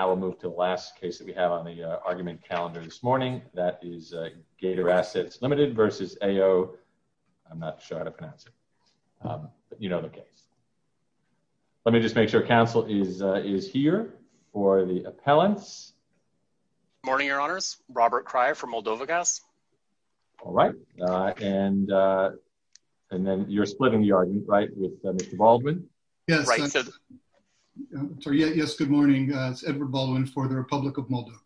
Now we'll move to the last case that we have on the argument calendar this morning. That is Gater Assets Ltd. v. AO Gazsnabtranzit. Let me just make sure council is here for the appellants. Good morning, your honors. Robert Cryer from Moldova Gas. All right. And public of Moldova.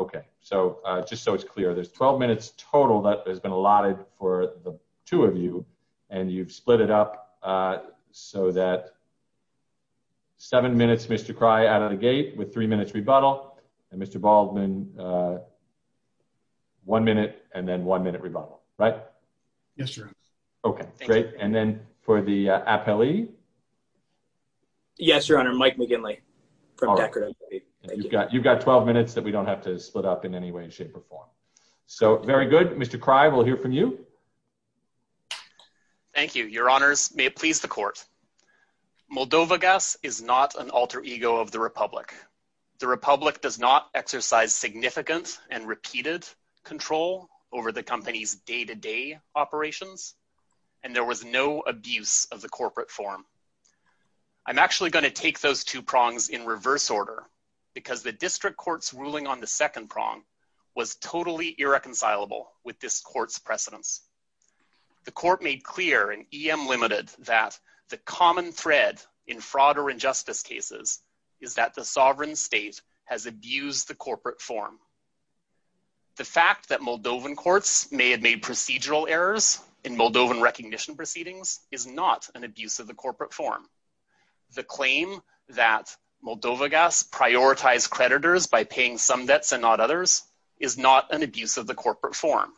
Okay, so just so it's clear, there's 12 minutes total that has been allotted for the two of you. And you've split it up so that seven minutes Mr. Cry out of the gate with three minutes rebuttal. And Mr. Baldwin, one minute and then one minute rebuttal, right? Yes, sir. Okay, great. And then for the appellee? Yes, your honor, Mike McGinley. You've got 12 minutes that we don't have to split up in any way, shape or form. So very good. Mr. Cry, we'll hear from you. Thank you, your honors. May it please the court. Moldova Gas is not an alter ego of the Republic. The Republic does not exercise significant and repeated control over the company's day to day operations. And there was no abuse of the because the district courts ruling on the second prong was totally irreconcilable with this court's precedence. The court made clear and em limited that the common thread in fraud or injustice cases is that the sovereign state has abused the corporate form. The fact that Moldovan courts may have made procedural errors in Moldovan recognition proceedings is not an abuse of corporate form. The claim that Moldova Gas prioritize creditors by paying some debts and not others is not an abuse of the corporate form.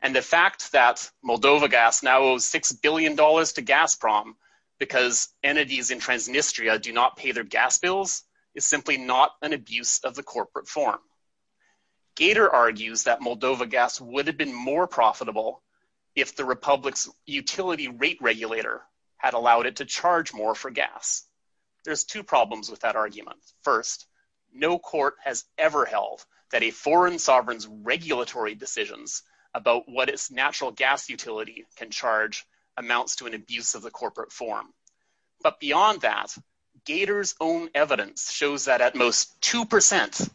And the fact that Moldova Gas now owes $6 billion to gas prom because entities in Transnistria do not pay their gas bills is simply not an abuse of the corporate form. Gator argues that Moldova Gas would have been more profitable if the Republic's rate regulator had allowed it to charge more for gas. There's two problems with that argument. First, no court has ever held that a foreign sovereign's regulatory decisions about what its natural gas utility can charge amounts to an abuse of the corporate form. But beyond that, Gator's own evidence shows that at most 2%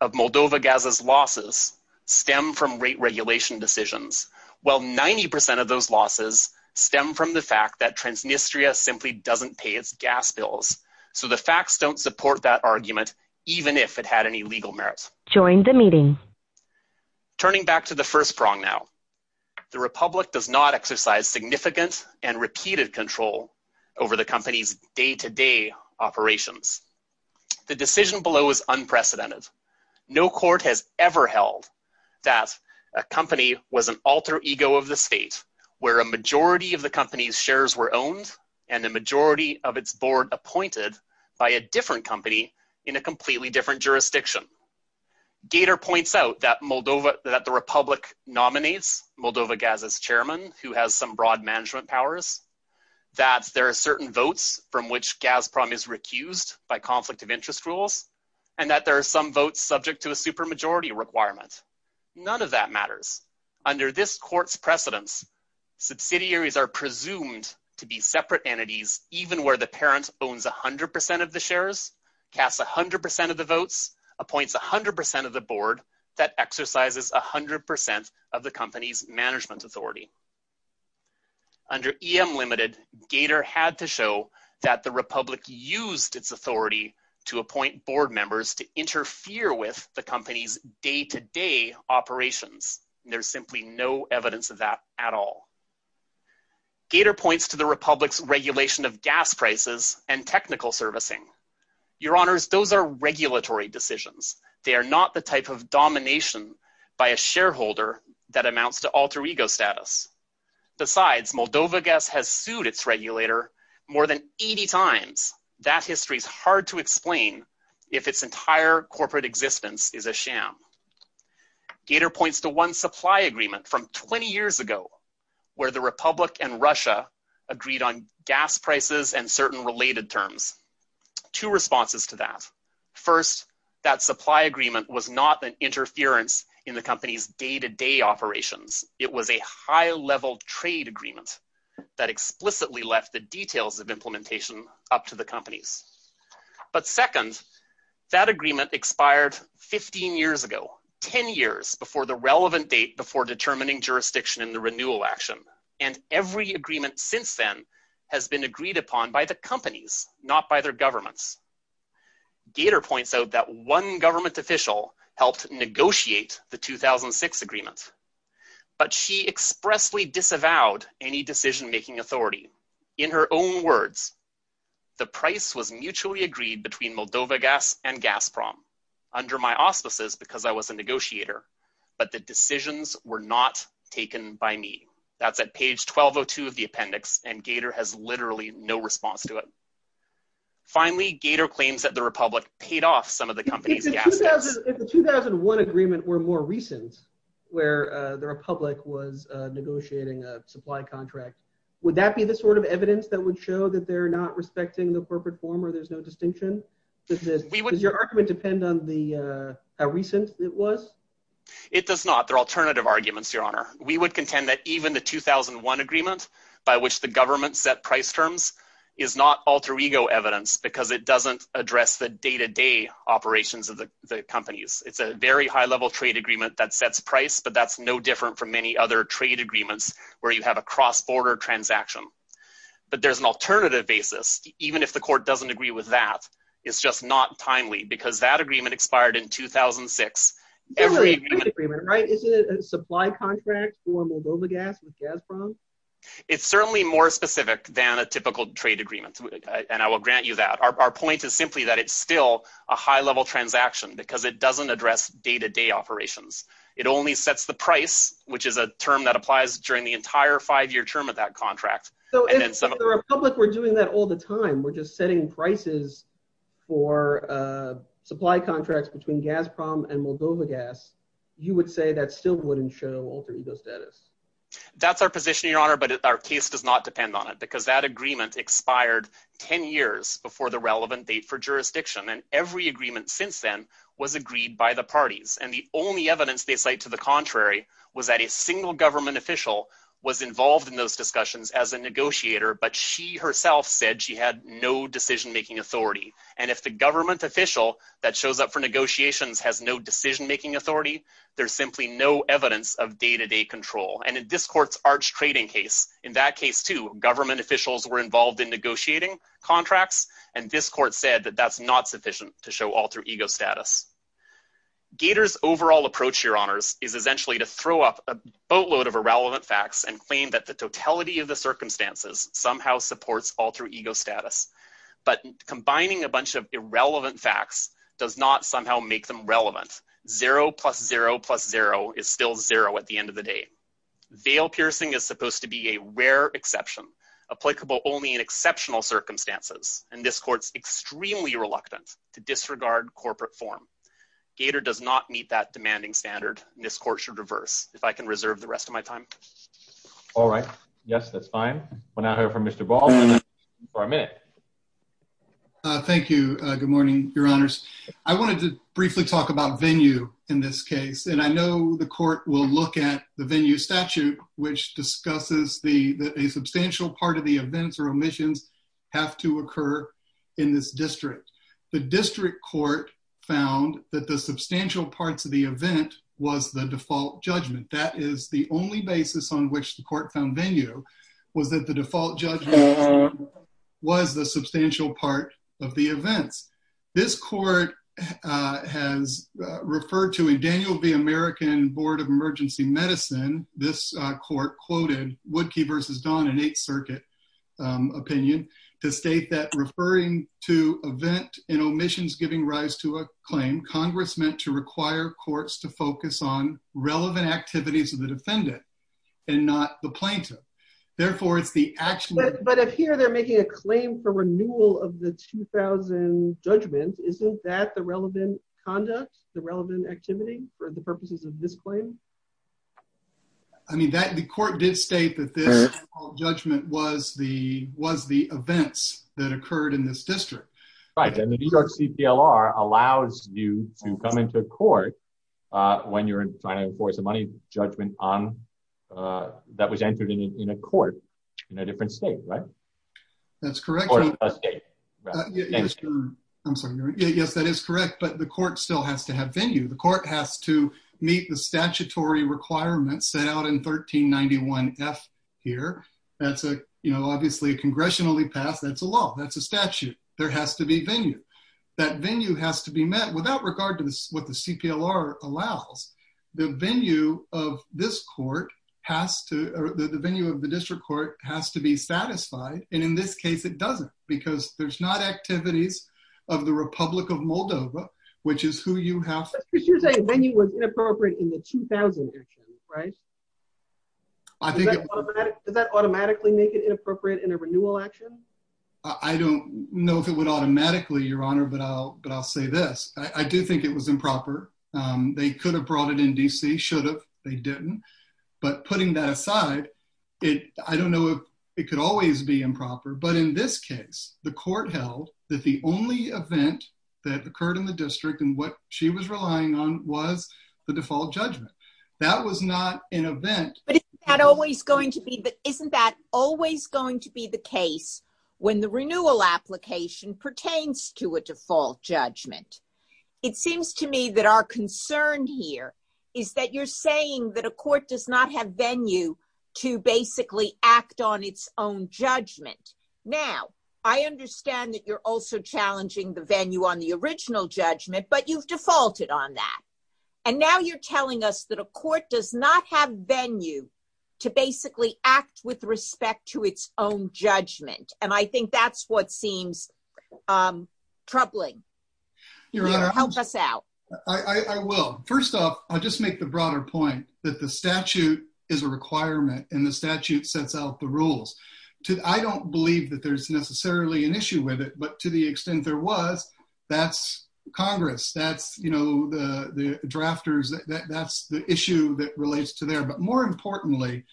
of Moldova Gas's losses stem from rate regulation decisions, while 90% of those losses stem from the fact that Transnistria simply doesn't pay its gas bills. So the facts don't support that argument, even if it had any legal merit. Turning back to the first prong now, the Republic does not exercise significant and repeated control over the company's day-to-day operations. The decision below is of the state, where a majority of the company's shares were owned and the majority of its board appointed by a different company in a completely different jurisdiction. Gator points out that the Republic nominates Moldova Gas's chairman, who has some broad management powers, that there are certain votes from which Gazprom is recused by conflict of interest rules, and that there are some votes subject to a supermajority requirement. None of that matters. Under this court's precedence, subsidiaries are presumed to be separate entities, even where the parent owns 100% of the shares, casts 100% of the votes, appoints 100% of the board, that exercises 100% of the company's management authority. Under EM Limited, Gator had to show that the Republic used its authority to appoint board to interfere with the company's day-to-day operations. There's simply no evidence of that at all. Gator points to the Republic's regulation of gas prices and technical servicing. Your honors, those are regulatory decisions. They are not the type of domination by a shareholder that amounts to alter ego status. Besides, Moldova Gas has sued its regulator more than 80 times. That history is hard to explain if its entire corporate existence is a sham. Gator points to one supply agreement from 20 years ago, where the Republic and Russia agreed on gas prices and certain related terms. Two responses to that. First, that supply agreement was not an interference in the company's day-to-day operations. It was a high-level trade agreement that explicitly left the details of implementation up to the companies. But second, that agreement expired 15 years ago, 10 years before the relevant date before determining jurisdiction in the renewal action. And every agreement since then has been agreed upon by the companies, not by their governments. Gator points out that one government official helped negotiate the 2006 agreement, but she expressly disavowed any decision-making authority. In her own words, the price was mutually agreed between Moldova Gas and Gazprom, under my auspices because I was a negotiator, but the decisions were not taken by me. That's at page 1202 of the appendix, and Gator has literally no response to it. Finally, Gator claims that the 2001 agreement were more recent, where the Republic was negotiating a supply contract. Would that be the sort of evidence that would show that they're not respecting the corporate form or there's no distinction? Does your argument depend on how recent it was? It does not. They're alternative arguments, Your Honor. We would contend that even the 2001 agreement, by which the government set price terms, is not alter-ego evidence because it doesn't address the day-to-day operations of the companies. It's a very high-level trade agreement that sets price, but that's no different from many other trade agreements where you have a cross-border transaction. But there's an alternative basis. Even if the court doesn't agree with that, it's just not timely because that agreement expired in 2006. It's a trade agreement, right? Isn't it a supply contract for Moldova Gas with Gazprom? It's certainly more specific than a typical trade agreement, and I will grant you that. Our point is simply that it's still a high-level transaction because it doesn't address day-to-day operations. It only sets the price, which is a term that applies during the entire five-year term of that contract. If the Republic were doing that all the time, we're just setting prices for supply contracts between Gazprom and Moldova Gas, you would say that still wouldn't show alter-ego status? That's our position, Your Honor, but our case does not depend on it because that agreement expired 10 years before the relevant date for jurisdiction, and every agreement since then was agreed by the parties. The only evidence they cite to the contrary was that a single government official was involved in those discussions as a negotiator, but she herself said she had no decision-making authority. If the government official that shows up for negotiations has no decision-making authority, there's simply no evidence of day-to-day control. In this court's arch trading case, in that case too, government officials were involved in negotiating contracts, and this court said that that's not sufficient to show alter-ego status. Gator's overall approach, Your Honors, is essentially to throw up a boatload of irrelevant facts and claim that the totality of the circumstances somehow supports alter-ego status, but combining a bunch of irrelevant facts does not somehow make them relevant. Zero plus zero plus zero is still zero at the end of the day. Veil piercing is supposed to be a rare exception, applicable only in exceptional circumstances, and this court's extremely reluctant to disregard corporate form. Gator does not meet that demanding standard, and this court should reverse, if I can reserve the rest of my time. All right. Yes, that's fine. We'll now hear from Mr. Baldwin for a minute. Thank you. Good morning, Your Honors. I wanted to briefly talk about venue in this case, and I know the court will look at the venue statute, which discusses that a substantial part of the events or omissions have to occur in this district. The district court found that the substantial parts of the event was the default judgment. That is the only basis on which the court found venue, was that the default judgment was the substantial part of the events. This court has referred to a Daniel B. American Board of Emergency Medicine. This court quoted Woodkey versus Don in Eighth Circuit opinion to state that referring to event and omissions giving rise to a claim, Congress meant to require courts to focus on relevant activities of the defendant and not the plaintiff. Therefore, it's the actual- But up here, they're making a claim for renewal of the 2000 judgment. Isn't that the relevant conduct, the relevant activity for the purposes of this claim? I mean, the court did state that this judgment was the events that occurred in this district. Right, and the New York CPLR allows you to come into court when you're trying to enforce a money judgment that was entered in a court in a different state, right? That's correct. I'm sorry. Yes, that is correct, but the court still has to have venue. The court has to meet the statutory requirements set out in 1391F here. That's obviously congressionally passed. That's a law. That's a statute. There has to be venue. That venue has to be met without regard to what the CPLR allows. The venue of this court has to, or the venue of the district court has to be satisfied, and in this case, it doesn't because there's not activities of the Republic of Moldova, which is who you have- But you're saying venue was inappropriate in the 2000 judgment, right? Does that automatically make it inappropriate in a renewal action? I don't know if it would automatically, Your Honor, but I'll say this. I do think it was improper. They could have brought it in D.C., should have. They didn't, but putting that aside, I don't know if it could always be improper, but in this case, the court held that the only event that occurred in the district and what she was relying on was the default judgment. That was not an event- But isn't that always going to be the case when the renewal application pertains to a default judgment? It seems to me that our concern here is that you're saying that a court does not have venue to basically act on its own judgment. Now, I understand that you're also challenging the venue on the original judgment, but you've defaulted on that, and now you're telling us that a court does not have venue to basically act with respect to its own judgment, and I think that's what seems troubling. Your Honor- Help us out. I will. First off, I'll just make the broader point that the statute is a requirement, and the statute sets out the rules. I don't believe that there's necessarily an issue with it, but to the extent there was, that's Congress. That's the drafters. That's the issue that relates to there, but more importantly,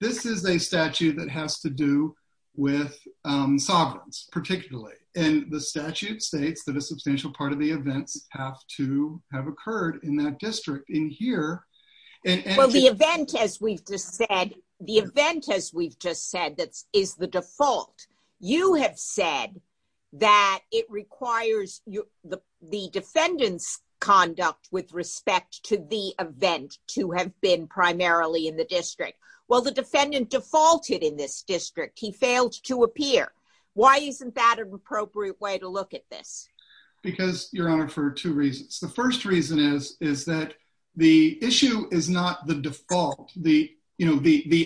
this is a statute that has to do with sovereigns, particularly, and the statute states that a court does not have venue to basically act on its own judgment, and I think that's what seems troubling. Your Honor, I don't believe that there's necessarily an issue with it, but to the extent there was, that's Congress. That's the issue that relates to there, but more importantly, this is a statute that has to do with sovereigns, particularly, and the statute states that a court is not the default, the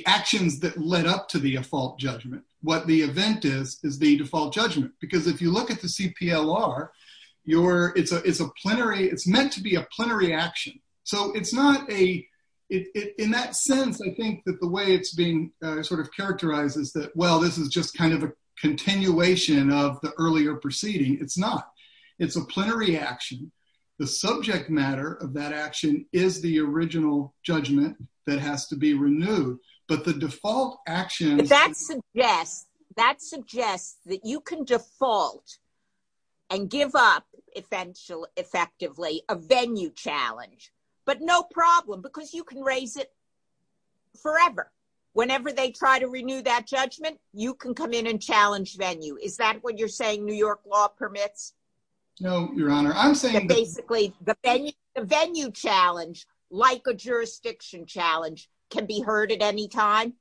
actions that led up to the default judgment. What the event is, is the default judgment, because if you look at the CPLR, it's meant to be a plenary action, so in that sense, I think that the way it's being sort of characterized is that, well, this is just kind of a continuation of the earlier proceeding. It's not. It's a plenary action. The subject matter of that action is the original judgment that has to be renewed, but the default action— That suggests that you can default and give up effectively a venue challenge, but no problem because you can raise it forever. Whenever they try to renew that judgment, you can come in and challenge venue. Is that what you're saying, New York law permits? No, Your Honor. I'm saying— Basically, the venue challenge, like a jurisdiction challenge, can be heard at any time?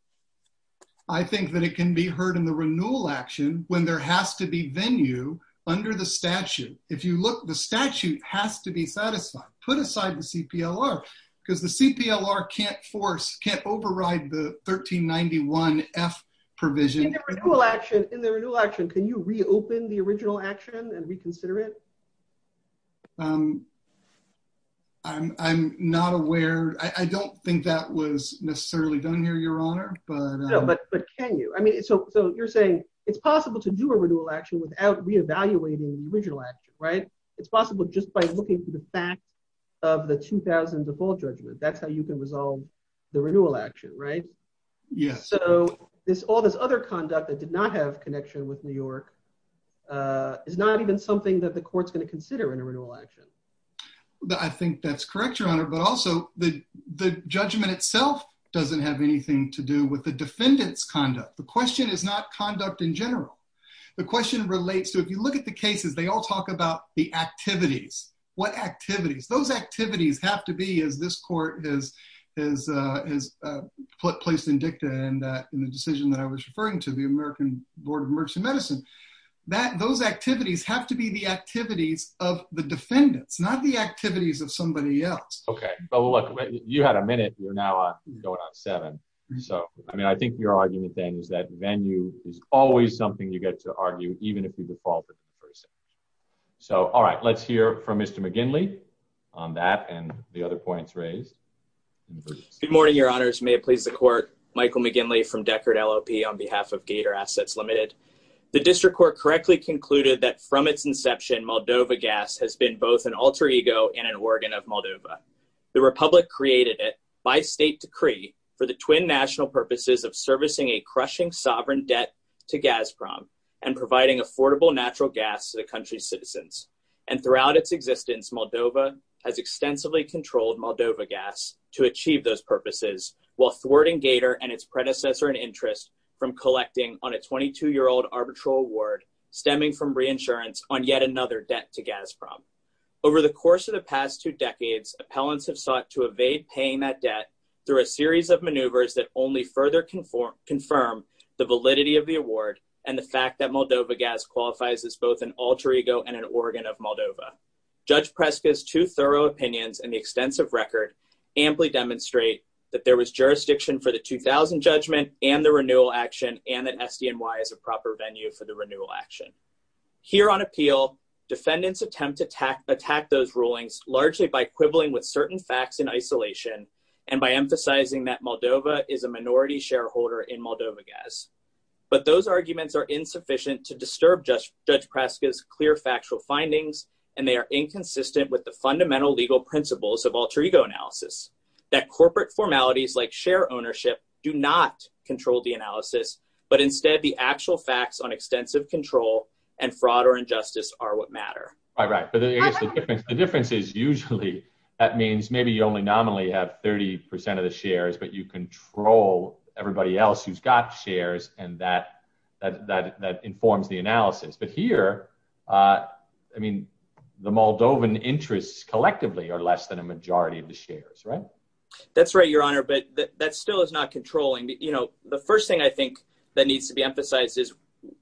I think that it can be heard in the renewal action when there has to be venue under the statute. If you look, the statute has to be satisfied. Put aside the CPLR because the CPLR can't force, can't override the 1391F provision. In the renewal action, can you reopen the original action and reconsider it? I'm not aware. I don't think that was necessarily done here, Your Honor, but— No, but can you? I mean, so you're saying it's possible to do a renewal action without reevaluating the original action, right? It's possible just by looking through the facts of the 2000 default judgment. That's how you can resolve the renewal action, right? Yes. All this other conduct that did not have connection with New York is not even something that the court's going to consider in a renewal action. I think that's correct, Your Honor, but also the judgment itself doesn't have anything to do with the defendant's conduct. The question is not conduct in general. The question relates to, if you look at the cases, they all talk about the activities. What activities? Those activities have to be, as this court has placed in dicta in the decision that I was referring to, the American Board of Emergency Medicine. Those activities have to be the activities of the defendants, not the activities of somebody else. Okay. Well, look, you had a minute. You're now going on seven. I mean, I think your argument, then, is that venue is always something you get to argue, even if you default in the first instance. All right. Let's hear from Mr. McGinley on that and the other points raised. Good morning, Your Honors. May it please the Court. Michael McGinley from Deckard LLP on behalf of Gator Assets Limited. The District Court correctly concluded that from its inception, Moldova gas has been both an alter ego and an organ of Moldova. The Republic created it by state decree for the twin national purposes of servicing a crushing sovereign debt to Gazprom and providing affordable natural gas to the country's citizens. Throughout its existence, Moldova has extensively controlled Moldova gas to achieve those purposes, while thwarting Gator and its predecessor in interest from collecting on a 22-year-old arbitral award stemming from reinsurance on yet another debt to Gazprom. Over the course of the past two decades, appellants have sought to evade paying that debt through a series of maneuvers that only further confirm the validity of the award and the fact that Moldova gas qualifies as both an alter ego and an organ of Moldova. Judge Preska's two thorough opinions and the extensive record amply demonstrate that there was jurisdiction for the 2000 judgment and the renewal action and that SDNY is a proper venue for the renewal action. Here on appeal, defendants attempt to attack those rulings largely by quibbling with certain facts in isolation and by emphasizing that Moldova is a minority shareholder in Moldova gas. But those arguments are insufficient to disturb Judge Preska's clear factual findings and they are inconsistent with the fundamental legal principles of alter ego analysis, that corporate formalities like share ownership do not control the analysis, but instead the actual facts on extensive control and fraud or injustice are what matter. All right, but the difference is usually that means maybe you only have 30% of the shares, but you control everybody else who's got shares and that informs the analysis. But here, the Moldovan interests collectively are less than a majority of the shares, right? That's right, Your Honor, but that still is not controlling. The first thing I think that needs to be emphasized is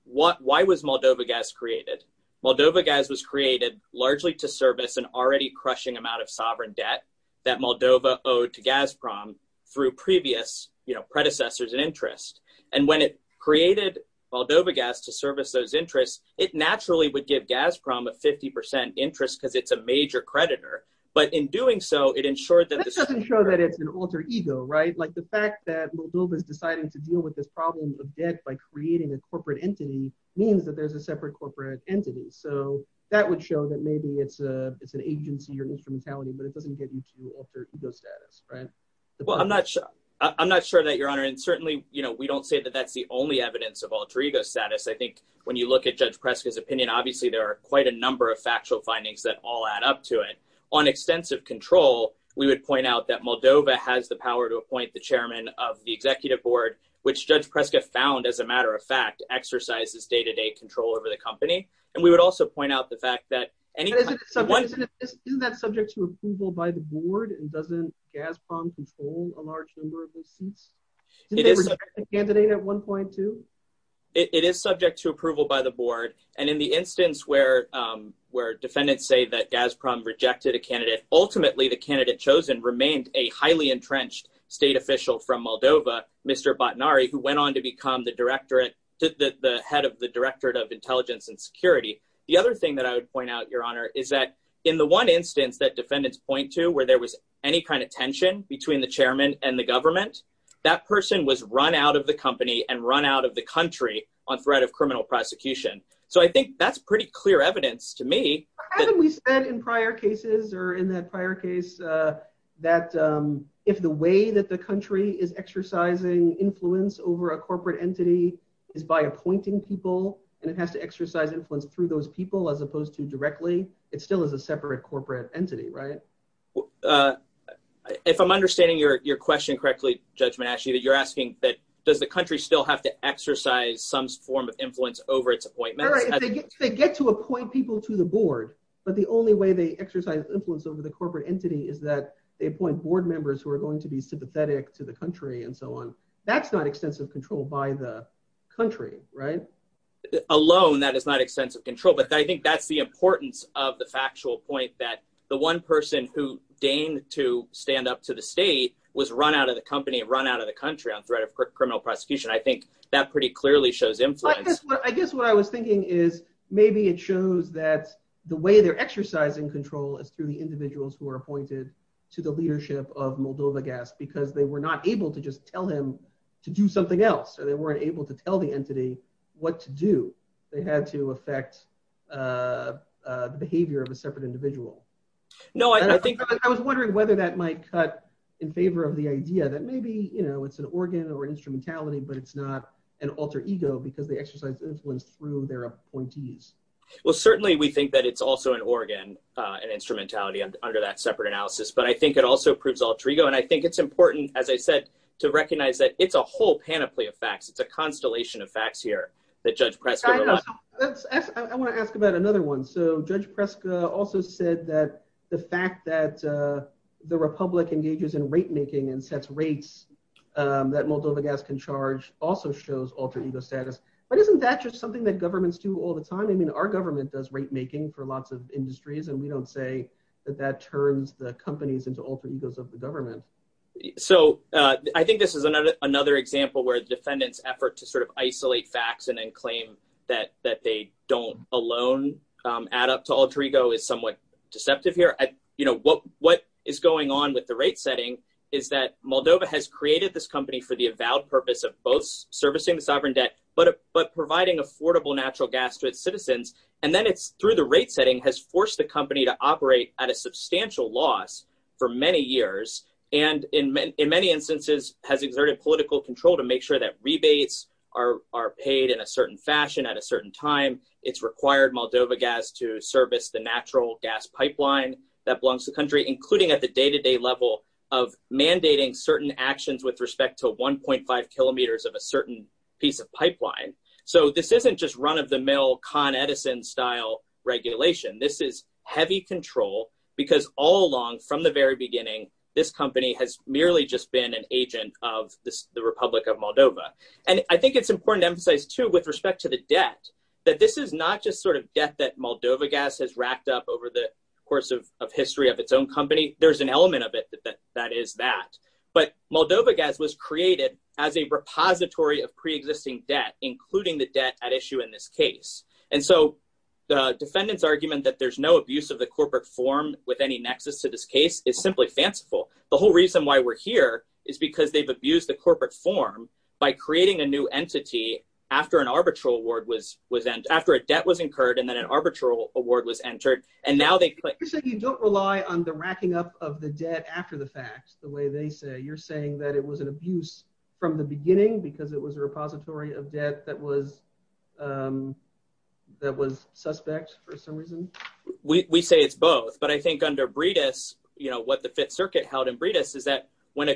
why was Moldova gas created? Moldova gas was created largely to service an already crushing amount of sovereign debt that Moldova owed to Gazprom through previous predecessors and interest. And when it created Moldova gas to service those interests, it naturally would give Gazprom a 50% interest because it's a major creditor. But in doing so, it ensured that... That doesn't show that it's an alter ego, right? Like the fact that Moldova is deciding to deal with this problem of debt by creating a corporate entity means that there's a separate corporate entity. So that would show that maybe it's an agency or instrumentality, but it doesn't get you to alter ego status, right? Well, I'm not sure that, Your Honor. And certainly, we don't say that that's the only evidence of alter ego status. I think when you look at Judge Preska's opinion, obviously there are quite a number of factual findings that all add up to it. On extensive control, we would point out that Moldova has the power to appoint the chairman of the executive board, which Judge Preska found, as a matter of day-to-day control over the company. And we would also point out the fact that... Isn't that subject to approval by the board and doesn't Gazprom control a large number of those seats? Didn't they reject a candidate at one point too? It is subject to approval by the board. And in the instance where defendants say that Gazprom rejected a candidate, ultimately the candidate chosen remained a highly entrenched state official from Moldova, Mr. Batnari, who is the head of the Directorate of Intelligence and Security. The other thing that I would point out, Your Honor, is that in the one instance that defendants point to where there was any kind of tension between the chairman and the government, that person was run out of the company and run out of the country on threat of criminal prosecution. So I think that's pretty clear evidence to me. But haven't we said in prior cases or in that prior case that if the way the country is exercising influence over a corporate entity is by appointing people, and it has to exercise influence through those people as opposed to directly, it still is a separate corporate entity, right? If I'm understanding your question correctly, Judge Manasci, that you're asking that does the country still have to exercise some form of influence over its appointments? They get to appoint people to the board, but the only way they exercise influence over the corporate entity is that they appoint board members who are going to be sympathetic to the country and so on. That's not extensive control by the country, right? Alone, that is not extensive control, but I think that's the importance of the factual point that the one person who deigned to stand up to the state was run out of the company and run out of the country on threat of criminal prosecution. I think that pretty clearly shows influence. I guess what I was thinking is maybe it shows that the way they're exercising control is through the individuals who are appointed to the leadership of Moldova Gas because they were not able to just tell him to do something else, or they weren't able to tell the entity what to do. They had to affect the behavior of a separate individual. I was wondering whether that might cut in favor of the idea that maybe it's an organ or instrumentality, but it's not an alter ego because they exercise influence through their appointees. Well, certainly we think that it's also an organ and instrumentality under that analysis, but I think it also proves alter ego. I think it's important, as I said, to recognize that it's a whole panoply of facts. It's a constellation of facts here that Judge Preska- I want to ask about another one. Judge Preska also said that the fact that the Republic engages in rate making and sets rates that Moldova Gas can charge also shows alter ego status, but isn't that just something that governments do all the time? Our government does rate making for lots of industries, and we don't say that that turns the companies into alter egos of the government. I think this is another example where the defendant's effort to sort of isolate facts and then claim that they don't alone add up to alter ego is somewhat deceptive here. What is going on with the rate setting is that Moldova has created this company for the avowed purpose of both servicing the sovereign debt, but providing affordable natural gas to its citizens, and then it's through the rate setting has forced the company to operate at a substantial loss for many years, and in many instances has exerted political control to make sure that rebates are paid in a certain fashion at a certain time. It's required Moldova Gas to service the natural gas pipeline that belongs to the country, including at the day-to-day level of mandating certain actions with respect to 1.5 kilometers of a certain piece of pipeline. So this isn't just run-of-the-mill Con Edison style regulation. This is heavy control because all along from the very beginning, this company has merely just been an agent of the Republic of Moldova, and I think it's important to emphasize too with respect to the debt that this is not just sort of debt that Moldova Gas has racked up over the course of history of its own company. There's an element of it that is that, but Moldova Gas was created as a repository of pre-existing debt, including the debt at issue in this case. And so the defendant's argument that there's no abuse of the corporate form with any nexus to this case is simply fanciful. The whole reason why we're here is because they've abused the corporate form by creating a new entity after an arbitral award was, after a debt was incurred and then an arbitral award was entered, and now they- You're saying you don't rely on the racking up of the debt after the fact, the way they say. You're saying that it was an abuse from the beginning because it was a repository of debt that was suspect for some reason? We say it's both, but I think under Bredis, you know, what the Fifth Circuit held in Bredis is that when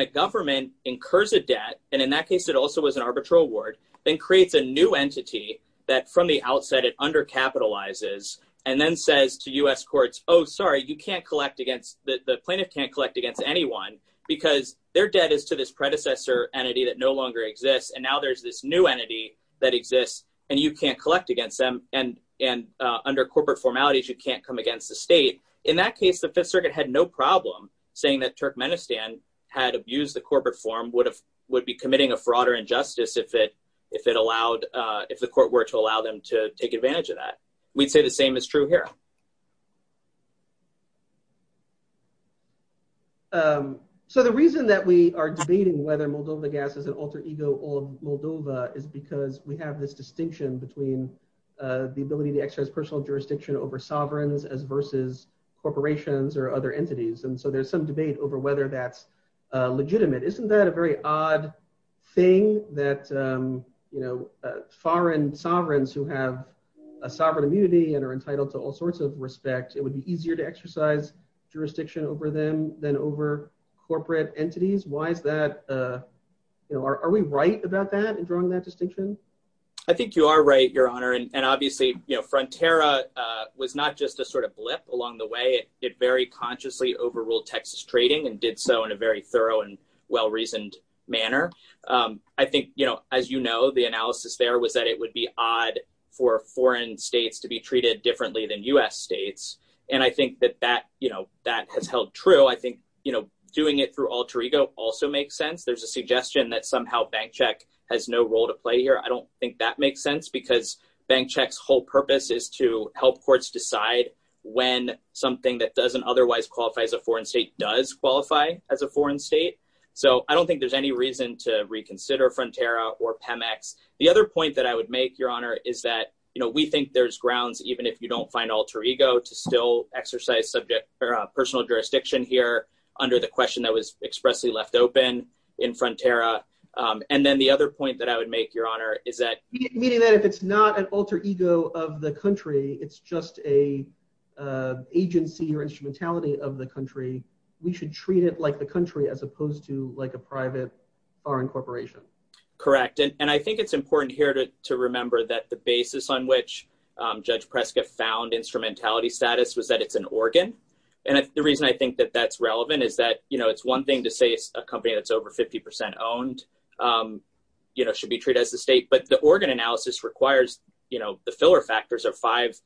a government incurs a debt, and in that case it also was an arbitral award, then creates a new entity that from the outset it undercapitalizes and then says to U.S. courts, oh sorry, you can't collect against- the plaintiff can't collect against anyone because their debt is to this predecessor entity that no longer exists, and now there's this new entity that exists, and you can't collect against them, and under corporate formalities, you can't come against the state. In that case, the Fifth Circuit had no problem saying that Turkmenistan had abused the corporate form, would be committing a fraud or injustice if it allowed- if the court were to allow them to take advantage of that. We'd say same is true here. So the reason that we are debating whether Moldova gas is an alter ego of Moldova is because we have this distinction between the ability to exercise personal jurisdiction over sovereigns as versus corporations or other entities, and so there's some debate over whether that's legitimate. Isn't that a very odd thing that, you know, foreign sovereigns who have a sovereign immunity and are entitled to all sorts of respect, it would be easier to exercise jurisdiction over them than over corporate entities? Why is that, you know, are we right about that in drawing that distinction? I think you are right, your honor, and obviously, you know, Frontera was not just a sort of blip along the way. It very consciously overruled Texas trading and did so in a very thorough and well-reasoned manner. I think, you know, as you know, the foreign states to be treated differently than U.S. states, and I think that that, you know, that has held true. I think, you know, doing it through alter ego also makes sense. There's a suggestion that somehow bank check has no role to play here. I don't think that makes sense because bank checks' whole purpose is to help courts decide when something that doesn't otherwise qualify as a foreign state does qualify as a foreign state. So I don't think there's any reason to reconsider Frontera or Pemex. The other point that I would make, your honor, is that, you know, we think there's grounds, even if you don't find alter ego, to still exercise subject or personal jurisdiction here under the question that was expressly left open in Frontera. And then the other point that I would make, your honor, is that... Meaning that if it's not an alter ego of the country, it's just a agency or instrumentality of the country, we should treat it like the country as opposed to like a private foreign corporation. Correct, and I think it's important here to remember that the basis on which Judge Prescott found instrumentality status was that it's an organ. And the reason I think that that's relevant is that, you know, it's one thing to say a company that's over 50% owned, you know, should be treated as the state, but the organ analysis requires, you know, the filler factors are five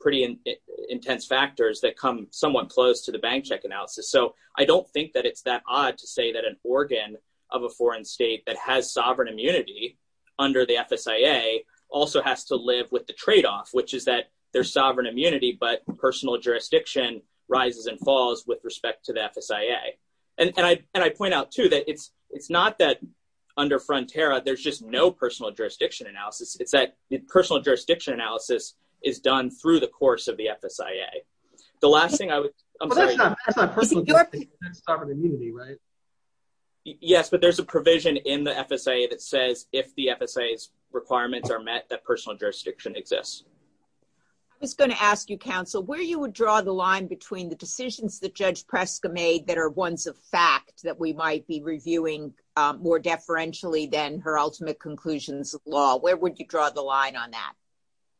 pretty intense factors that come somewhat close to the bank check analysis. So I don't think that it's that odd to say that an organ of a foreign state that has sovereign immunity under the FSIA also has to live with the trade-off, which is that there's sovereign immunity, but personal jurisdiction rises and falls with respect to the FSIA. And I point out too that it's not that under Frontera there's just no personal jurisdiction analysis. It's that the personal jurisdiction analysis is done through the course of the FSIA. Yes, but there's a provision in the FSIA that says if the FSIA's requirements are met that personal jurisdiction exists. I was going to ask you, counsel, where you would draw the line between the decisions that Judge Prescott made that are ones of fact that we might be reviewing more deferentially than her ultimate conclusions law. Where would you draw the line on that?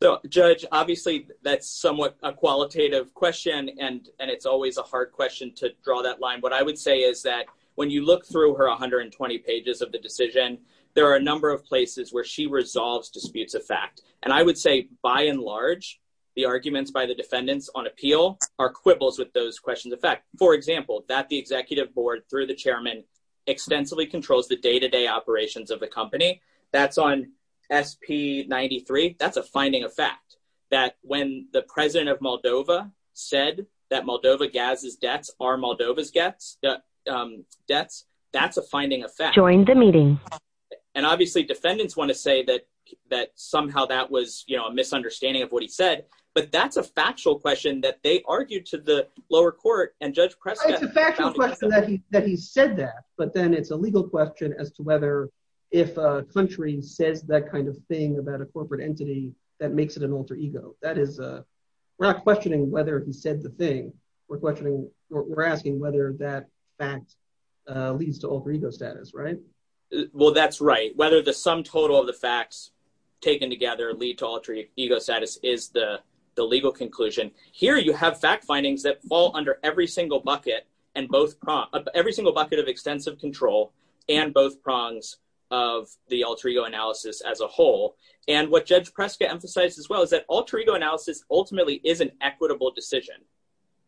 So Judge, obviously that's somewhat a qualitative question and it's always a hard question to draw that line. What I would say is that when you look through her 120 pages of the decision, there are a number of places where she resolves disputes of fact. And I would say by and large, the arguments by the defendants on appeal are quibbles with those questions of fact. For example, that the executive board through the chairman extensively controls the day-to-day operations of the company. That's on SP 93. That's a finding of fact that when the president of Moldova said that Moldova gas's debts are Moldova's debts, that's a finding of fact. And obviously defendants want to say that somehow that was a misunderstanding of what he said, but that's a factual question that they argued to the lower court and Judge Prescott. It's a factual question that he said that, but then it's a legal question as to whether if a country says that kind of thing about a corporate entity that makes it an alter ego. We're not questioning whether he said the thing. We're asking whether that fact leads to alter ego status, right? Well, that's right. Whether the sum total of the facts taken together lead to alter ego status is the legal conclusion. Here you have fact findings that fall under every single bucket of extensive control and both prongs of the alter ego analysis as a whole. And what Judge Prescott emphasized as well is that alter ego analysis ultimately is an equitable decision.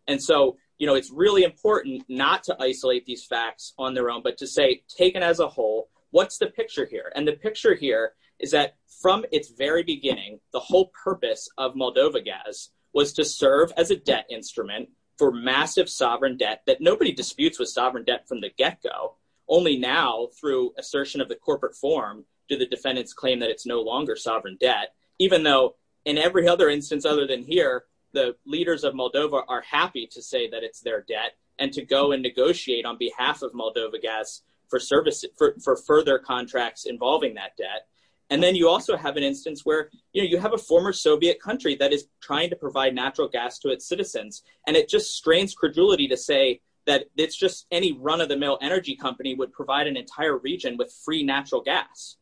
And so it's really important not to isolate these facts on their own, but to say taken as a whole, what's the picture here? And the picture here is that from its very beginning, the whole purpose of MoldovaGaz was to serve as a debt instrument for massive sovereign debt that nobody disputes with sovereign debt from the get-go. Only now through assertion of the corporate form, do the defendants claim that it's no longer sovereign debt, even though in every other instance other than here, the leaders of Moldova are happy to say that it's their debt and to go negotiate on behalf of MoldovaGaz for further contracts involving that debt. And then you also have an instance where you have a former Soviet country that is trying to provide natural gas to its citizens. And it just strains credulity to say that it's just any run-of-the-mill energy company would provide an entire region with free natural gas.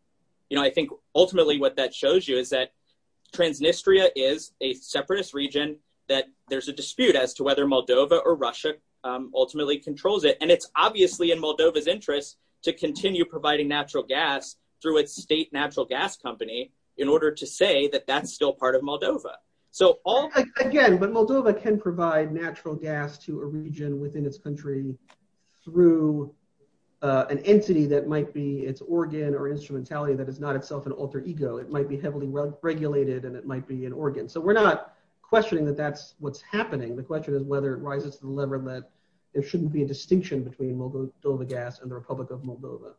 I think ultimately what that shows you is that Transnistria is a separatist region that there's a dispute as to whether Moldova or and it's obviously in Moldova's interest to continue providing natural gas through its state natural gas company in order to say that that's still part of Moldova. So again, but Moldova can provide natural gas to a region within its country through an entity that might be its organ or instrumentality that is not itself an alter ego. It might be heavily regulated and it might be an organ. So we're not questioning that that's what's happening. The question is whether it between MoldovaGaz and the Republic of Moldova.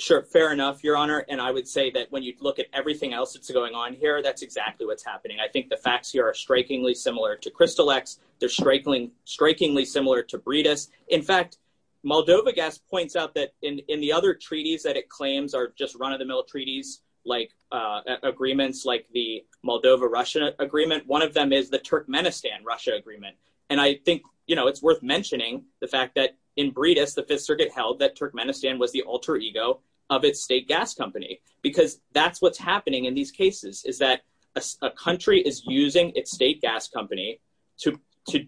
Sure. Fair enough, your honor. And I would say that when you look at everything else that's going on here, that's exactly what's happening. I think the facts here are strikingly similar to Crystal X. They're strikingly similar to Breedus. In fact, MoldovaGaz points out that in the other treaties that it claims are just run-of-the-mill treaties, like agreements like the Moldova-Russia agreement, one of them is the in Breedus, the fifth circuit held that Turkmenistan was the alter ego of its state gas company because that's what's happening in these cases is that a country is using its state gas company to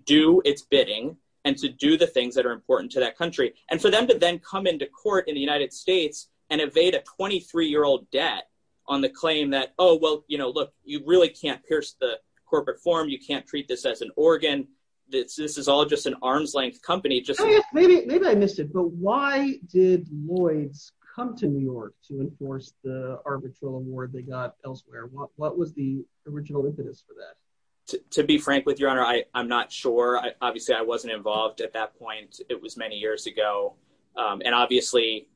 do its bidding and to do the things that are important to that country. And for them to then come into court in the United States and evade a 23-year-old debt on the claim that, oh, well, you know, look, you really can't pierce the corporate form. You can't treat this as an organ. This is all just an arm's length company. Maybe I missed it, but why did Lloyd's come to New York to enforce the arbitral award they got elsewhere? What was the original impetus for that? To be frank with your honor, I'm not sure. Obviously, I wasn't involved at that point. It was many years ago. And obviously,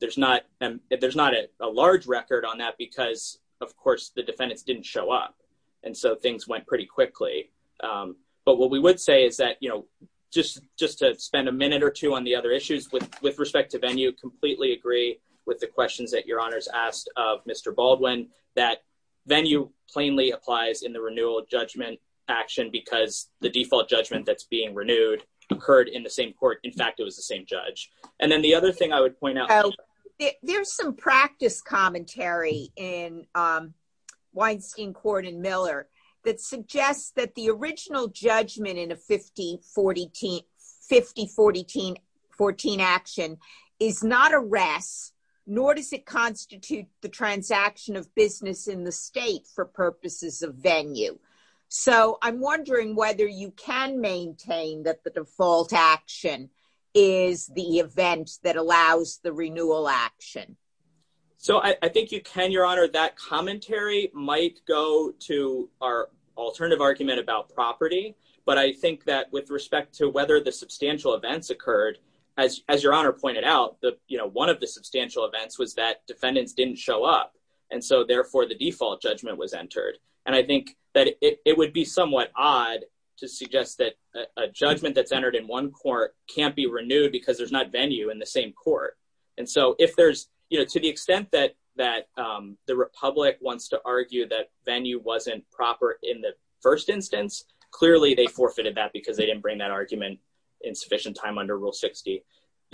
there's not a large record on that because, of course, the defendants didn't show up. And so things went pretty quickly. But what we would say is that, you know, just to spend a minute or two on the other issues with respect to venue, completely agree with the questions that your honors asked of Mr. Baldwin, that venue plainly applies in the renewal judgment action because the default judgment that's being renewed occurred in the same court. In fact, it was the same judge. And then the other thing I would point out- There's some practice commentary in Weinstein Court in Miller that suggests that the original judgment in a 50-40-14 action is not arrest, nor does it constitute the transaction of business in the state for purposes of venue. So I'm wondering whether you can maintain that the default action is the event that allows the renewal action. So I think you can, your honor. That commentary might go to our alternative argument about property. But I think that with respect to whether the substantial events occurred, as your honor pointed out, you know, one of the substantial events was that defendants didn't show up. And so therefore, the default judgment was entered. And I think that it would be somewhat odd to suggest that a judgment that's entered in one court can't be renewed because there's not venue in the same court. And so if there's, you know, to the extent that the Republic wants to argue that venue wasn't proper in the first instance, clearly they forfeited that because they didn't bring that argument in sufficient time under Rule 60.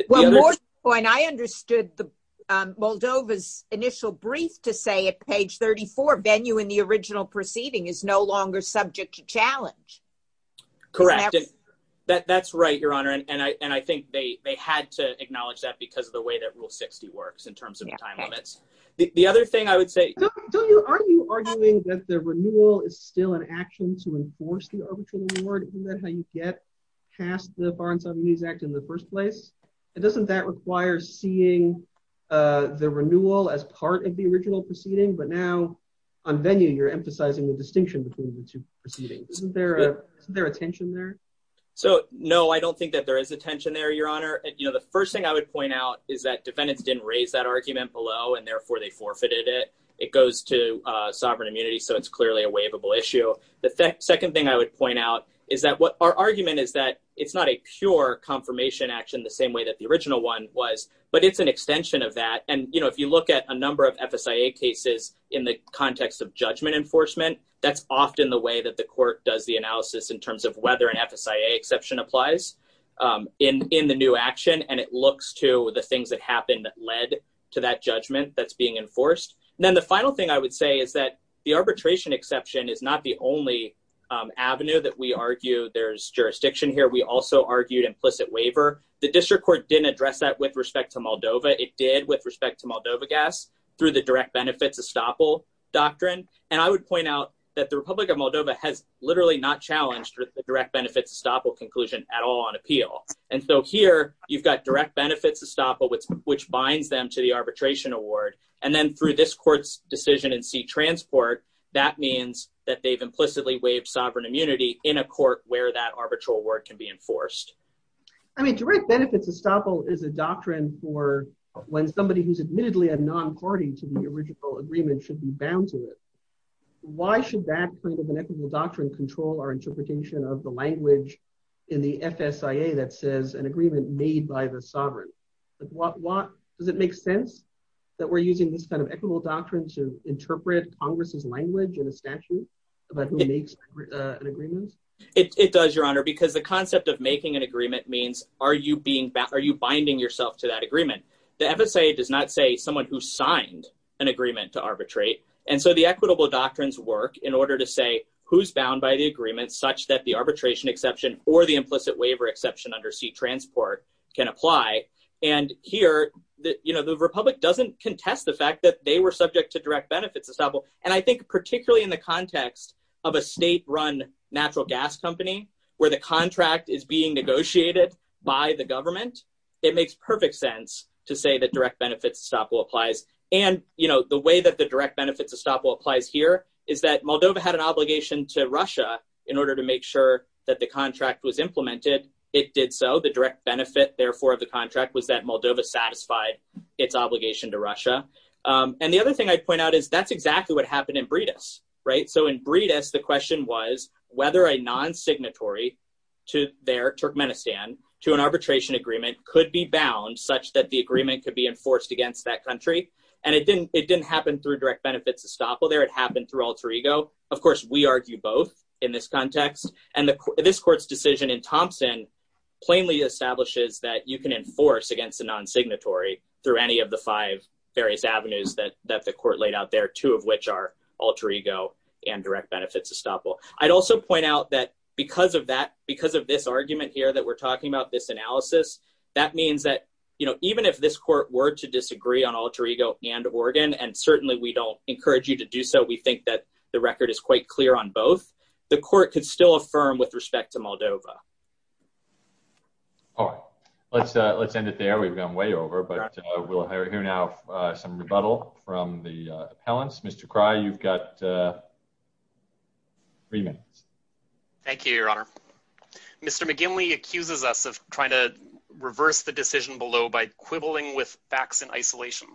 Well, I understood Moldova's initial brief to say at page 34, venue in the original proceeding is no longer subject to challenge. Correct. That's right, your honor. And I think they had to acknowledge that because of the way that Rule 60 works in terms of time limits. The other thing I would say... Don't you, are you arguing that the renewal is still an action to enforce the arbitral award? Isn't that how you get past the Bar and Siamese Act in the first place? And doesn't that require seeing the renewal as part of the original proceeding? But now on venue, you're emphasizing the distinction between the two proceedings. Isn't there a tension there? So, no, I don't think that there is a tension there, your honor. You know, the first thing I would point out is that defendants didn't raise that argument below and therefore they forfeited it. It goes to sovereign immunity. So it's clearly a waivable issue. The second thing I would point out is that what our argument is that it's not a pure confirmation action the same way that the original one was, but it's an extension of that. And, you know, if you look at a number of FSIA cases in the context of judgment enforcement, that's often the way that the court does the analysis in terms of whether an FSIA exception applies in the new action. And it looks to the things that happened that led to that judgment that's being enforced. And then the final thing I would say is that the arbitration exception is not the only avenue that we argue there's jurisdiction here. We also argued implicit waiver. The district court didn't address that with respect to Moldova. It did with respect to Moldova gas through the direct benefits estoppel doctrine. And I would point out that the Republic of Moldova has literally not challenged the direct benefits estoppel conclusion at all on appeal. And so here you've got direct benefits estoppel, which binds them to the arbitration award. And then through this court's decision in seat transport, that means that they've implicitly waived sovereign immunity in a court where that arbitral word can be enforced. I mean, direct benefits estoppel is a doctrine for when somebody who's admittedly a non-party to the original agreement should be bound to it. Why should that kind of an equitable doctrine control our interpretation of the language in the FSIA that says an agreement made by the sovereign? Does it make sense that we're using this kind of equitable doctrine to interpret Congress's language in a statute about who makes an agreement? It does, your honor, because the concept of making an agreement means are you binding yourself to that agreement? The FSIA does not say someone who signed an agreement to arbitrate. And so the equitable doctrines work in order to say who's bound by the agreement such that the arbitration exception or the implicit waiver exception under seat transport can apply. And here, the Republic doesn't contest the fact that they were subject to direct benefits estoppel. And I think particularly in the context of a state-run natural gas company where the contract is being negotiated by the government, it makes perfect sense to say that direct benefits estoppel applies. And the way that the direct benefits estoppel applies here is that Moldova had an obligation to Russia in order to make sure that the contract was implemented. It did so. The direct benefit, therefore, of the contract was that Moldova satisfied its obligation to Russia. And the other thing I'd point out is that's whether a non-signatory to Turkmenistan to an arbitration agreement could be bound such that the agreement could be enforced against that country. And it didn't happen through direct benefits estoppel there. It happened through alter ego. Of course, we argue both in this context. And this court's decision in Thompson plainly establishes that you can enforce against a non-signatory through any of the five various avenues that the court laid out there, two of which are alter ego and direct benefits estoppel. I'd also point out that because of this argument here that we're talking about, this analysis, that means that even if this court were to disagree on alter ego and Oregon, and certainly we don't encourage you to do so, we think that the record is quite clear on both, the court could still affirm with respect to Moldova. All right. Let's end it there. We've gone way over, but we'll hear now some rebuttal from the appellants. Mr. Cry, you've got three minutes. Thank you, your honor. Mr. McGinley accuses us of trying to reverse the decision below by quibbling with facts in isolation.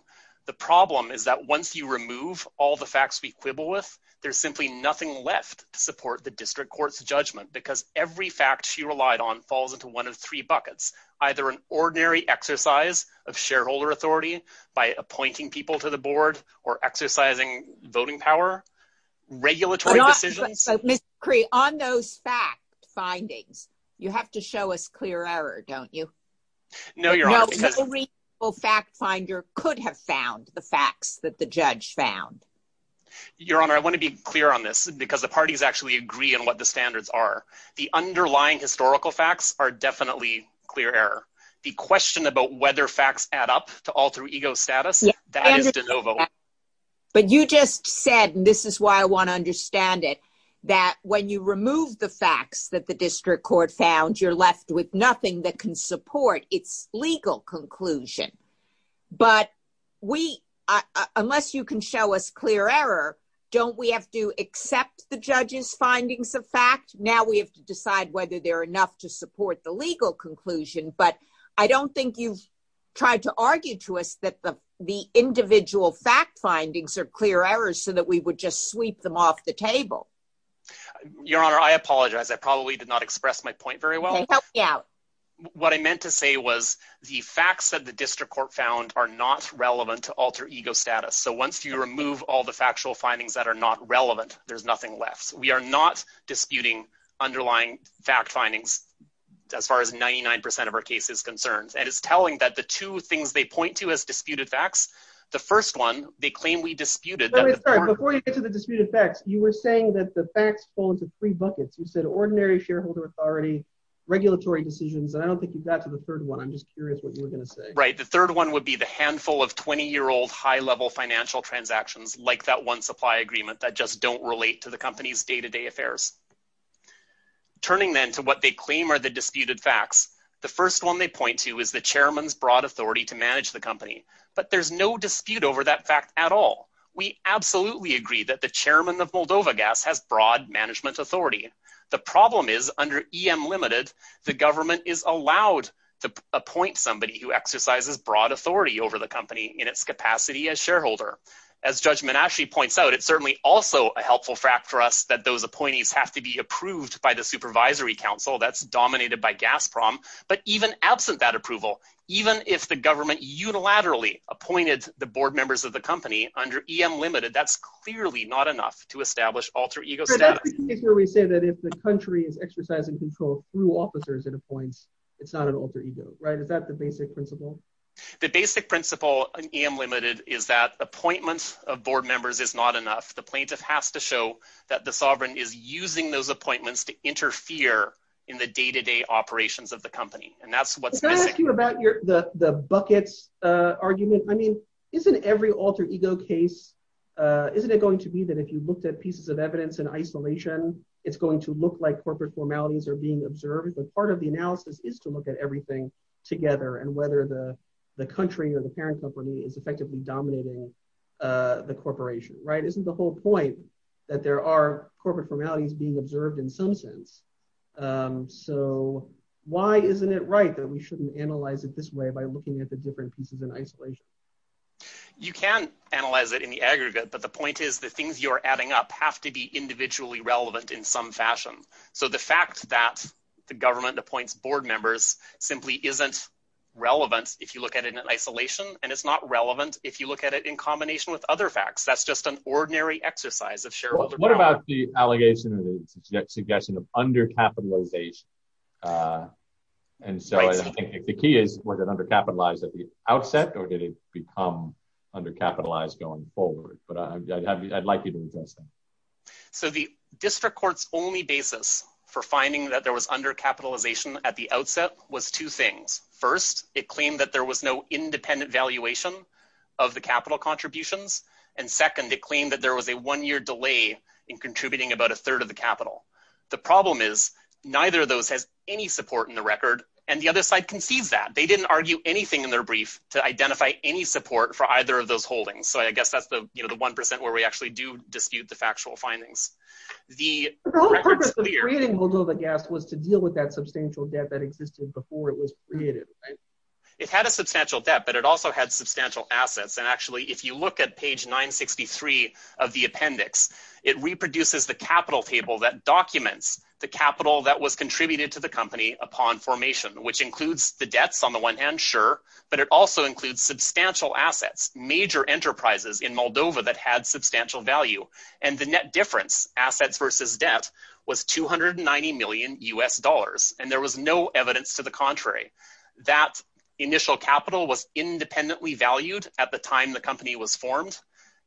The problem is that once you remove all the facts we quibble with, there's simply nothing left to support the district court's judgment because every fact she relied on falls into one of three buckets, either an ordinary exercise of shareholder authority by appointing people to the board or exercising voting power, regulatory decisions. So, Mr. Cry, on those fact findings, you have to show us clear error, don't you? No, your honor, because- No reasonable fact finder could have found the facts that the judge found. Your honor, I want to be clear on this because the parties actually agree on what the standards are. The underlying historical facts are definitely clear error. The question about whether facts add up to alter ego status, that is de novo. But you just said, and this is why I want to understand it, that when you remove the facts that the district court found, you're left with nothing that can support its legal conclusion. But unless you can show us clear error, don't we have to accept the judge's findings of fact? Now we have to decide whether they're to support the legal conclusion, but I don't think you've tried to argue to us that the individual fact findings are clear errors so that we would just sweep them off the table. Your honor, I apologize. I probably did not express my point very well. Okay, help me out. What I meant to say was the facts that the district court found are not relevant to alter ego status. So once you remove all the factual findings that are not relevant, there's nothing left. We are not disputing underlying fact findings as far as 99% of our case is concerned. And it's telling that the two things they point to as disputed facts, the first one, they claim we disputed- Before you get to the disputed facts, you were saying that the facts fall into three buckets. You said ordinary shareholder authority, regulatory decisions. And I don't think you got to the third one. I'm just curious what you were going to say. Right. The third one would be the handful of 20 year old high level financial transactions like that one supply agreement that just don't relate to the company's day-to-day affairs. Turning then to what they claim are the disputed facts. The first one they point to is the chairman's broad authority to manage the company, but there's no dispute over that fact at all. We absolutely agree that the chairman of Moldova Gas has broad management authority. The problem is under EM limited, the government is allowed to appoint somebody who exercises broad authority over the company in its capacity as shareholder. As Judge Menasche points out, it's certainly also a helpful fact for us that those appointees have to be approved by the supervisory council that's dominated by Gasprom, but even absent that approval, even if the government unilaterally appointed the board members of the company under EM limited, that's clearly not enough to establish alter ego status. So that's the case where we say that if the country is exercising control through officers it appoints, it's not an alter ego, right? Is that the basic principle? The basic principle in EM limited is that appointments of board members is not enough. The plaintiff has to show that the sovereign is using those appointments to interfere in the day-to-day operations of the company, and that's what's missing. Can I ask you about the buckets argument? I mean, isn't every alter ego case, isn't it going to be that if you looked at pieces of evidence in isolation, it's going to look like corporate formalities are being observed, but part of the analysis is to look at everything together and whether the country or the parent company is effectively dominating the corporation, right? Isn't the whole point that there are corporate formalities being observed in some sense? So why isn't it right that we shouldn't analyze it this way by looking at the different pieces in isolation? You can analyze it in the aggregate, but the point is the things you're adding up have to be individually relevant in some fashion. So the fact that the government appoints board members simply isn't relevant if you look at it in isolation, and it's not relevant if you look at it in combination with other facts, that's just an ordinary exercise of shareholder. What about the allegation or the suggestion of undercapitalization? And so I think the key is, was it undercapitalized at the outset, or did it become undercapitalized going forward? But I'd like you to address that. So the district court's only basis for finding that there was undercapitalization at the outset was two things. First, it claimed that there was no independent valuation of the capital contributions, and second, it claimed that there was a one-year delay in contributing about a third of the capital. The problem is, neither of those has any support in the record, and the other side concedes that. They didn't argue anything in their brief to identify any support for either of those actual findings. The whole purpose of creating Moldova Gas was to deal with that substantial debt that existed before it was created, right? It had a substantial debt, but it also had substantial assets. And actually, if you look at page 963 of the appendix, it reproduces the capital table that documents the capital that was contributed to the company upon formation, which includes the debts on the one hand, sure, but it also includes substantial assets, major enterprises in Moldova that had substantial value. And the net difference, assets versus debt, was 290 million US dollars, and there was no evidence to the contrary. That initial capital was independently valued at the time the company was formed.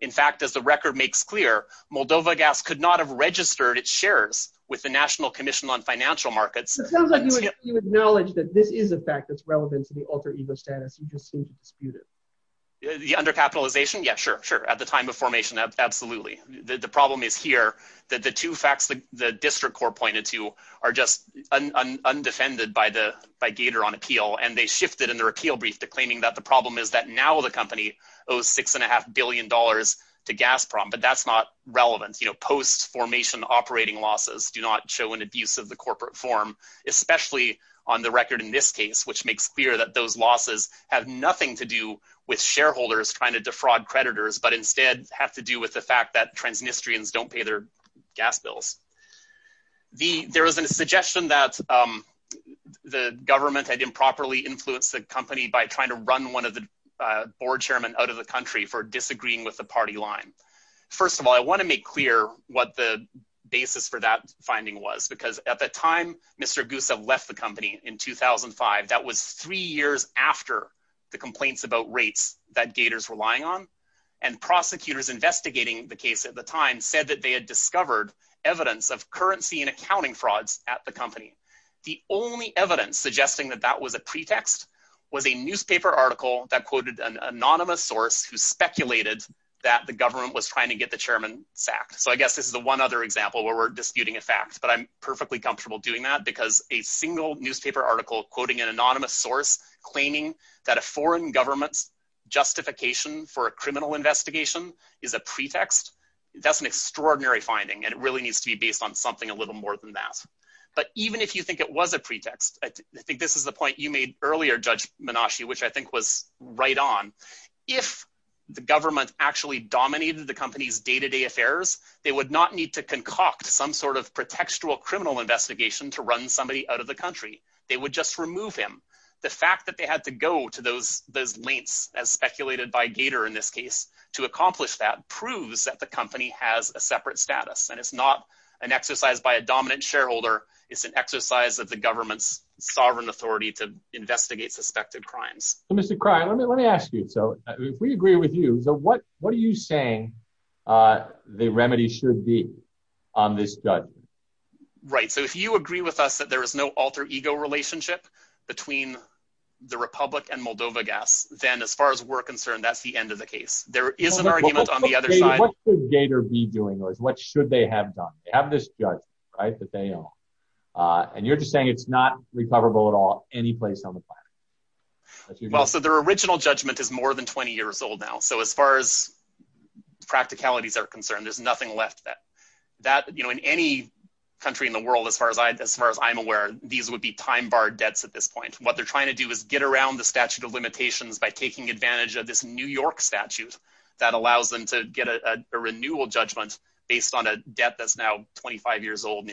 In fact, as the record makes clear, Moldova Gas could not have registered its shares with the National Commission on Financial Markets. It sounds like you acknowledge that this is a fact that's relevant to the alter ego status, you just seem to dispute it. The undercapitalization? Yeah, sure, sure. At the time of formation, absolutely. The problem is here that the two facts the district court pointed to are just undefended by Gator on appeal, and they shifted in their appeal brief to claiming that the problem is that now the company owes six and a half billion dollars to Gazprom, but that's not relevant. Post-formation operating losses do not show an abuse of the corporate form, especially on the record in this case, which makes clear that those losses have nothing to do with shareholders trying to defraud creditors, but instead have to do with the fact that transnistrians don't pay their gas bills. There was a suggestion that the government had improperly influenced the company by trying to run one of the board chairmen out of the country for disagreeing with the party line. First of all, I want to make clear what the basis for that finding was, because at the time Mr. Gusev left the company in 2005, that was three years after the complaints about rates that Gators were lying on, and prosecutors investigating the case at the time said that they had discovered evidence of currency and accounting frauds at the company. The only evidence suggesting that that was a pretext was a newspaper article that quoted an anonymous source who speculated that the government was trying to get the chairman sacked. So I guess this is the one other example where we're disputing a fact, but I'm perfectly comfortable doing that, because a single newspaper article quoting an anonymous source claiming that a foreign government's justification for a criminal investigation is a pretext, that's an extraordinary finding, and it really needs to be based on something a little more than that. But even if you think it was a pretext, I think this is the point you made earlier, Judge Menashe, which I think was right on. If the government actually dominated the company's day-to-day affairs, they would not need to concoct some sort of pretextual criminal investigation to run somebody out of the country. They would just remove him. The fact that they had to go to those lengths, as speculated by Gator in this case, to accomplish that proves that the company has a separate status, and it's not an exercise by a dominant shareholder, it's an exercise of the government's sovereign authority to investigate suspected crimes. Mr. Cryer, let me ask you, if we agree with you, what are you saying the remedy should be on this judge? Right, so if you agree with us that there is no alter ego relationship between the Republic and Moldova gas, then as far as we're concerned, that's the end of the case. There is an argument on the other side. What should Gator be doing, or what should they have done? They have this judge, right, that they own, and you're just saying it's not recoverable at all any place on the planet. Well, so their original judgment is more than 20 years old now, so as far as practicalities are concerned, there's nothing left of that. That, you know, in any country in the world, as far as I'm aware, these would be time-barred debts at this point. What they're trying to do is get around the statute of limitations by taking advantage of this New York statute that allows them to get a renewal judgment based on a debt that's now 25 years old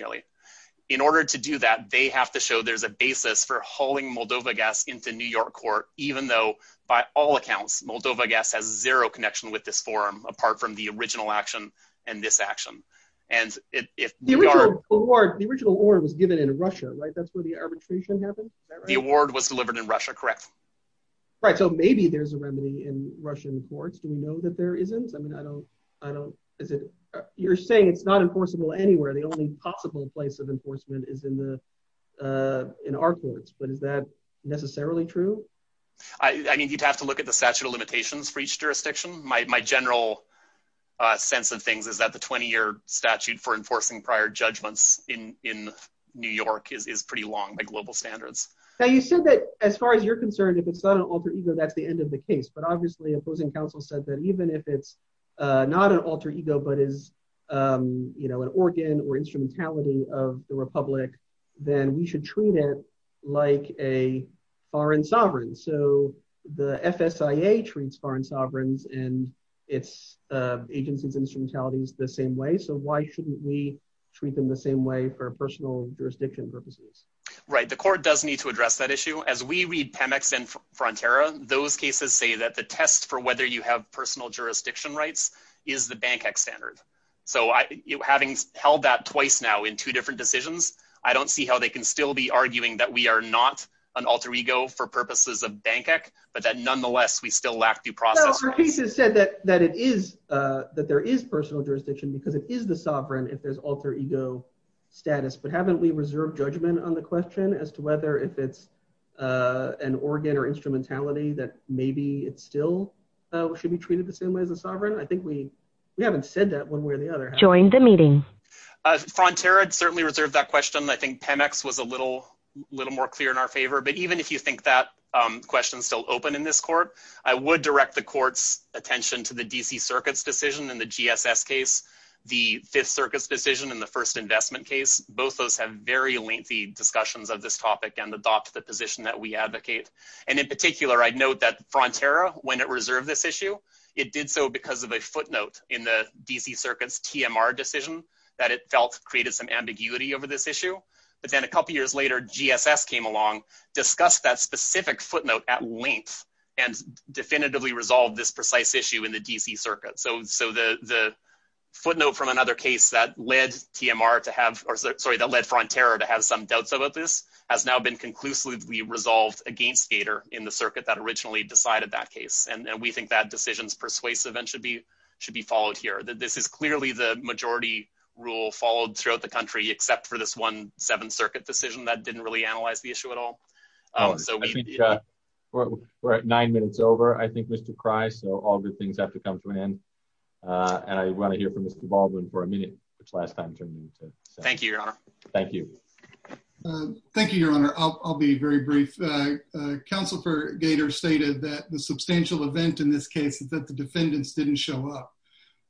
In order to do that, they have to show there's a basis for hauling Moldova gas into New York court, even though, by all accounts, Moldova gas has zero connection with this forum, apart from the original action and this action. The original award was given in Russia, right? That's where the arbitration happened? The award was delivered in Russia, correct. Right, so maybe there's a remedy in Russian courts. Do we know that there isn't? I mean, I don't, you're saying it's not enforceable anywhere. The only possible place of enforcement is in our courts, but is that necessarily true? I mean, you'd have to look at the statute of limitations for each jurisdiction. My general sense of things is that the 20-year statute for enforcing prior judgments in New York is pretty long by global standards. Now, you said that, as far as you're concerned, if it's not an alter ego, that's the end of the issue. If it's not an alter ego, but is an organ or instrumentality of the republic, then we should treat it like a foreign sovereign. So the FSIA treats foreign sovereigns and its agencies' instrumentalities the same way, so why shouldn't we treat them the same way for personal jurisdiction purposes? Right, the court does need to address that issue. As we read Pemex and Frontera, those cases say that the test for whether you have personal jurisdiction rights is the BANCEC standard. So having held that twice now in two different decisions, I don't see how they can still be arguing that we are not an alter ego for purposes of BANCEC, but that nonetheless, we still lack due process rights. No, the case has said that it is, that there is personal jurisdiction because it is the sovereign if there's alter ego status, but haven't we reserved judgment on the question as to whether if it's an organ or instrumentality that maybe it still should be treated the same way as a we haven't said that one way or the other. Join the meeting. Frontera certainly reserved that question. I think Pemex was a little more clear in our favor, but even if you think that question is still open in this court, I would direct the court's attention to the DC Circuit's decision in the GSS case, the Fifth Circuit's decision in the First Investment case. Both those have very lengthy discussions of this topic and adopt the position that we advocate. And in particular, I'd note that Frontera, when it reserved this in the DC Circuit's TMR decision, that it felt created some ambiguity over this issue. But then a couple years later, GSS came along, discussed that specific footnote at length and definitively resolved this precise issue in the DC Circuit. So the footnote from another case that led TMR to have, or sorry, that led Frontera to have some doubts about this has now been conclusively resolved against Gator in the circuit that originally decided that case. And we think that decision is persuasive and should be followed here. This is clearly the majority rule followed throughout the country, except for this one Seventh Circuit decision that didn't really analyze the issue at all. We're at nine minutes over, I think, Mr. Kreis, so all good things have to come to an end. And I want to hear from Mr. Baldwin for a minute, which last time turned me into... Thank you, Your Honor. Thank you. Thank you, Your Honor. I'll be very brief. Counsel for Gator stated that the substantial event in this case is that the defendants didn't show up.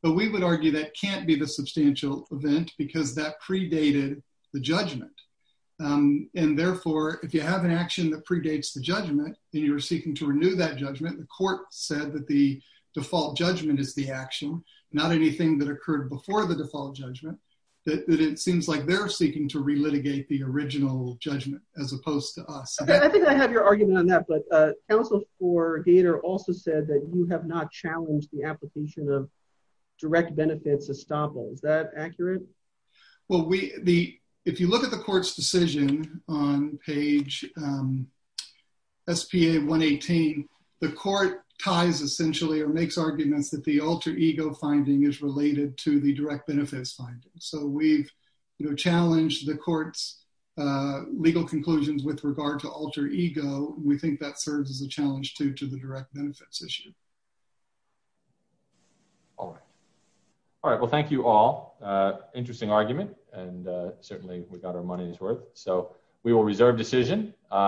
But we would argue that can't be the substantial event because that predated the judgment. And therefore, if you have an action that predates the judgment, then you're seeking to renew that judgment. The court said that the default judgment is the action, not anything that occurred before the default judgment, that it seems like they're seeking to relitigate the argument. Counsel for Gator also said that you have not challenged the application of direct benefits estoppel. Is that accurate? Well, if you look at the court's decision on page SPA 118, the court ties essentially or makes arguments that the alter ego finding is related to the direct benefits finding. So we've challenged the court's legal conclusions with regard to alter ego. We think that serves as a challenge to the direct benefits issue. All right. All right. Well, thank you all. Interesting argument, and certainly we got our money's worth. So we will reserve decision.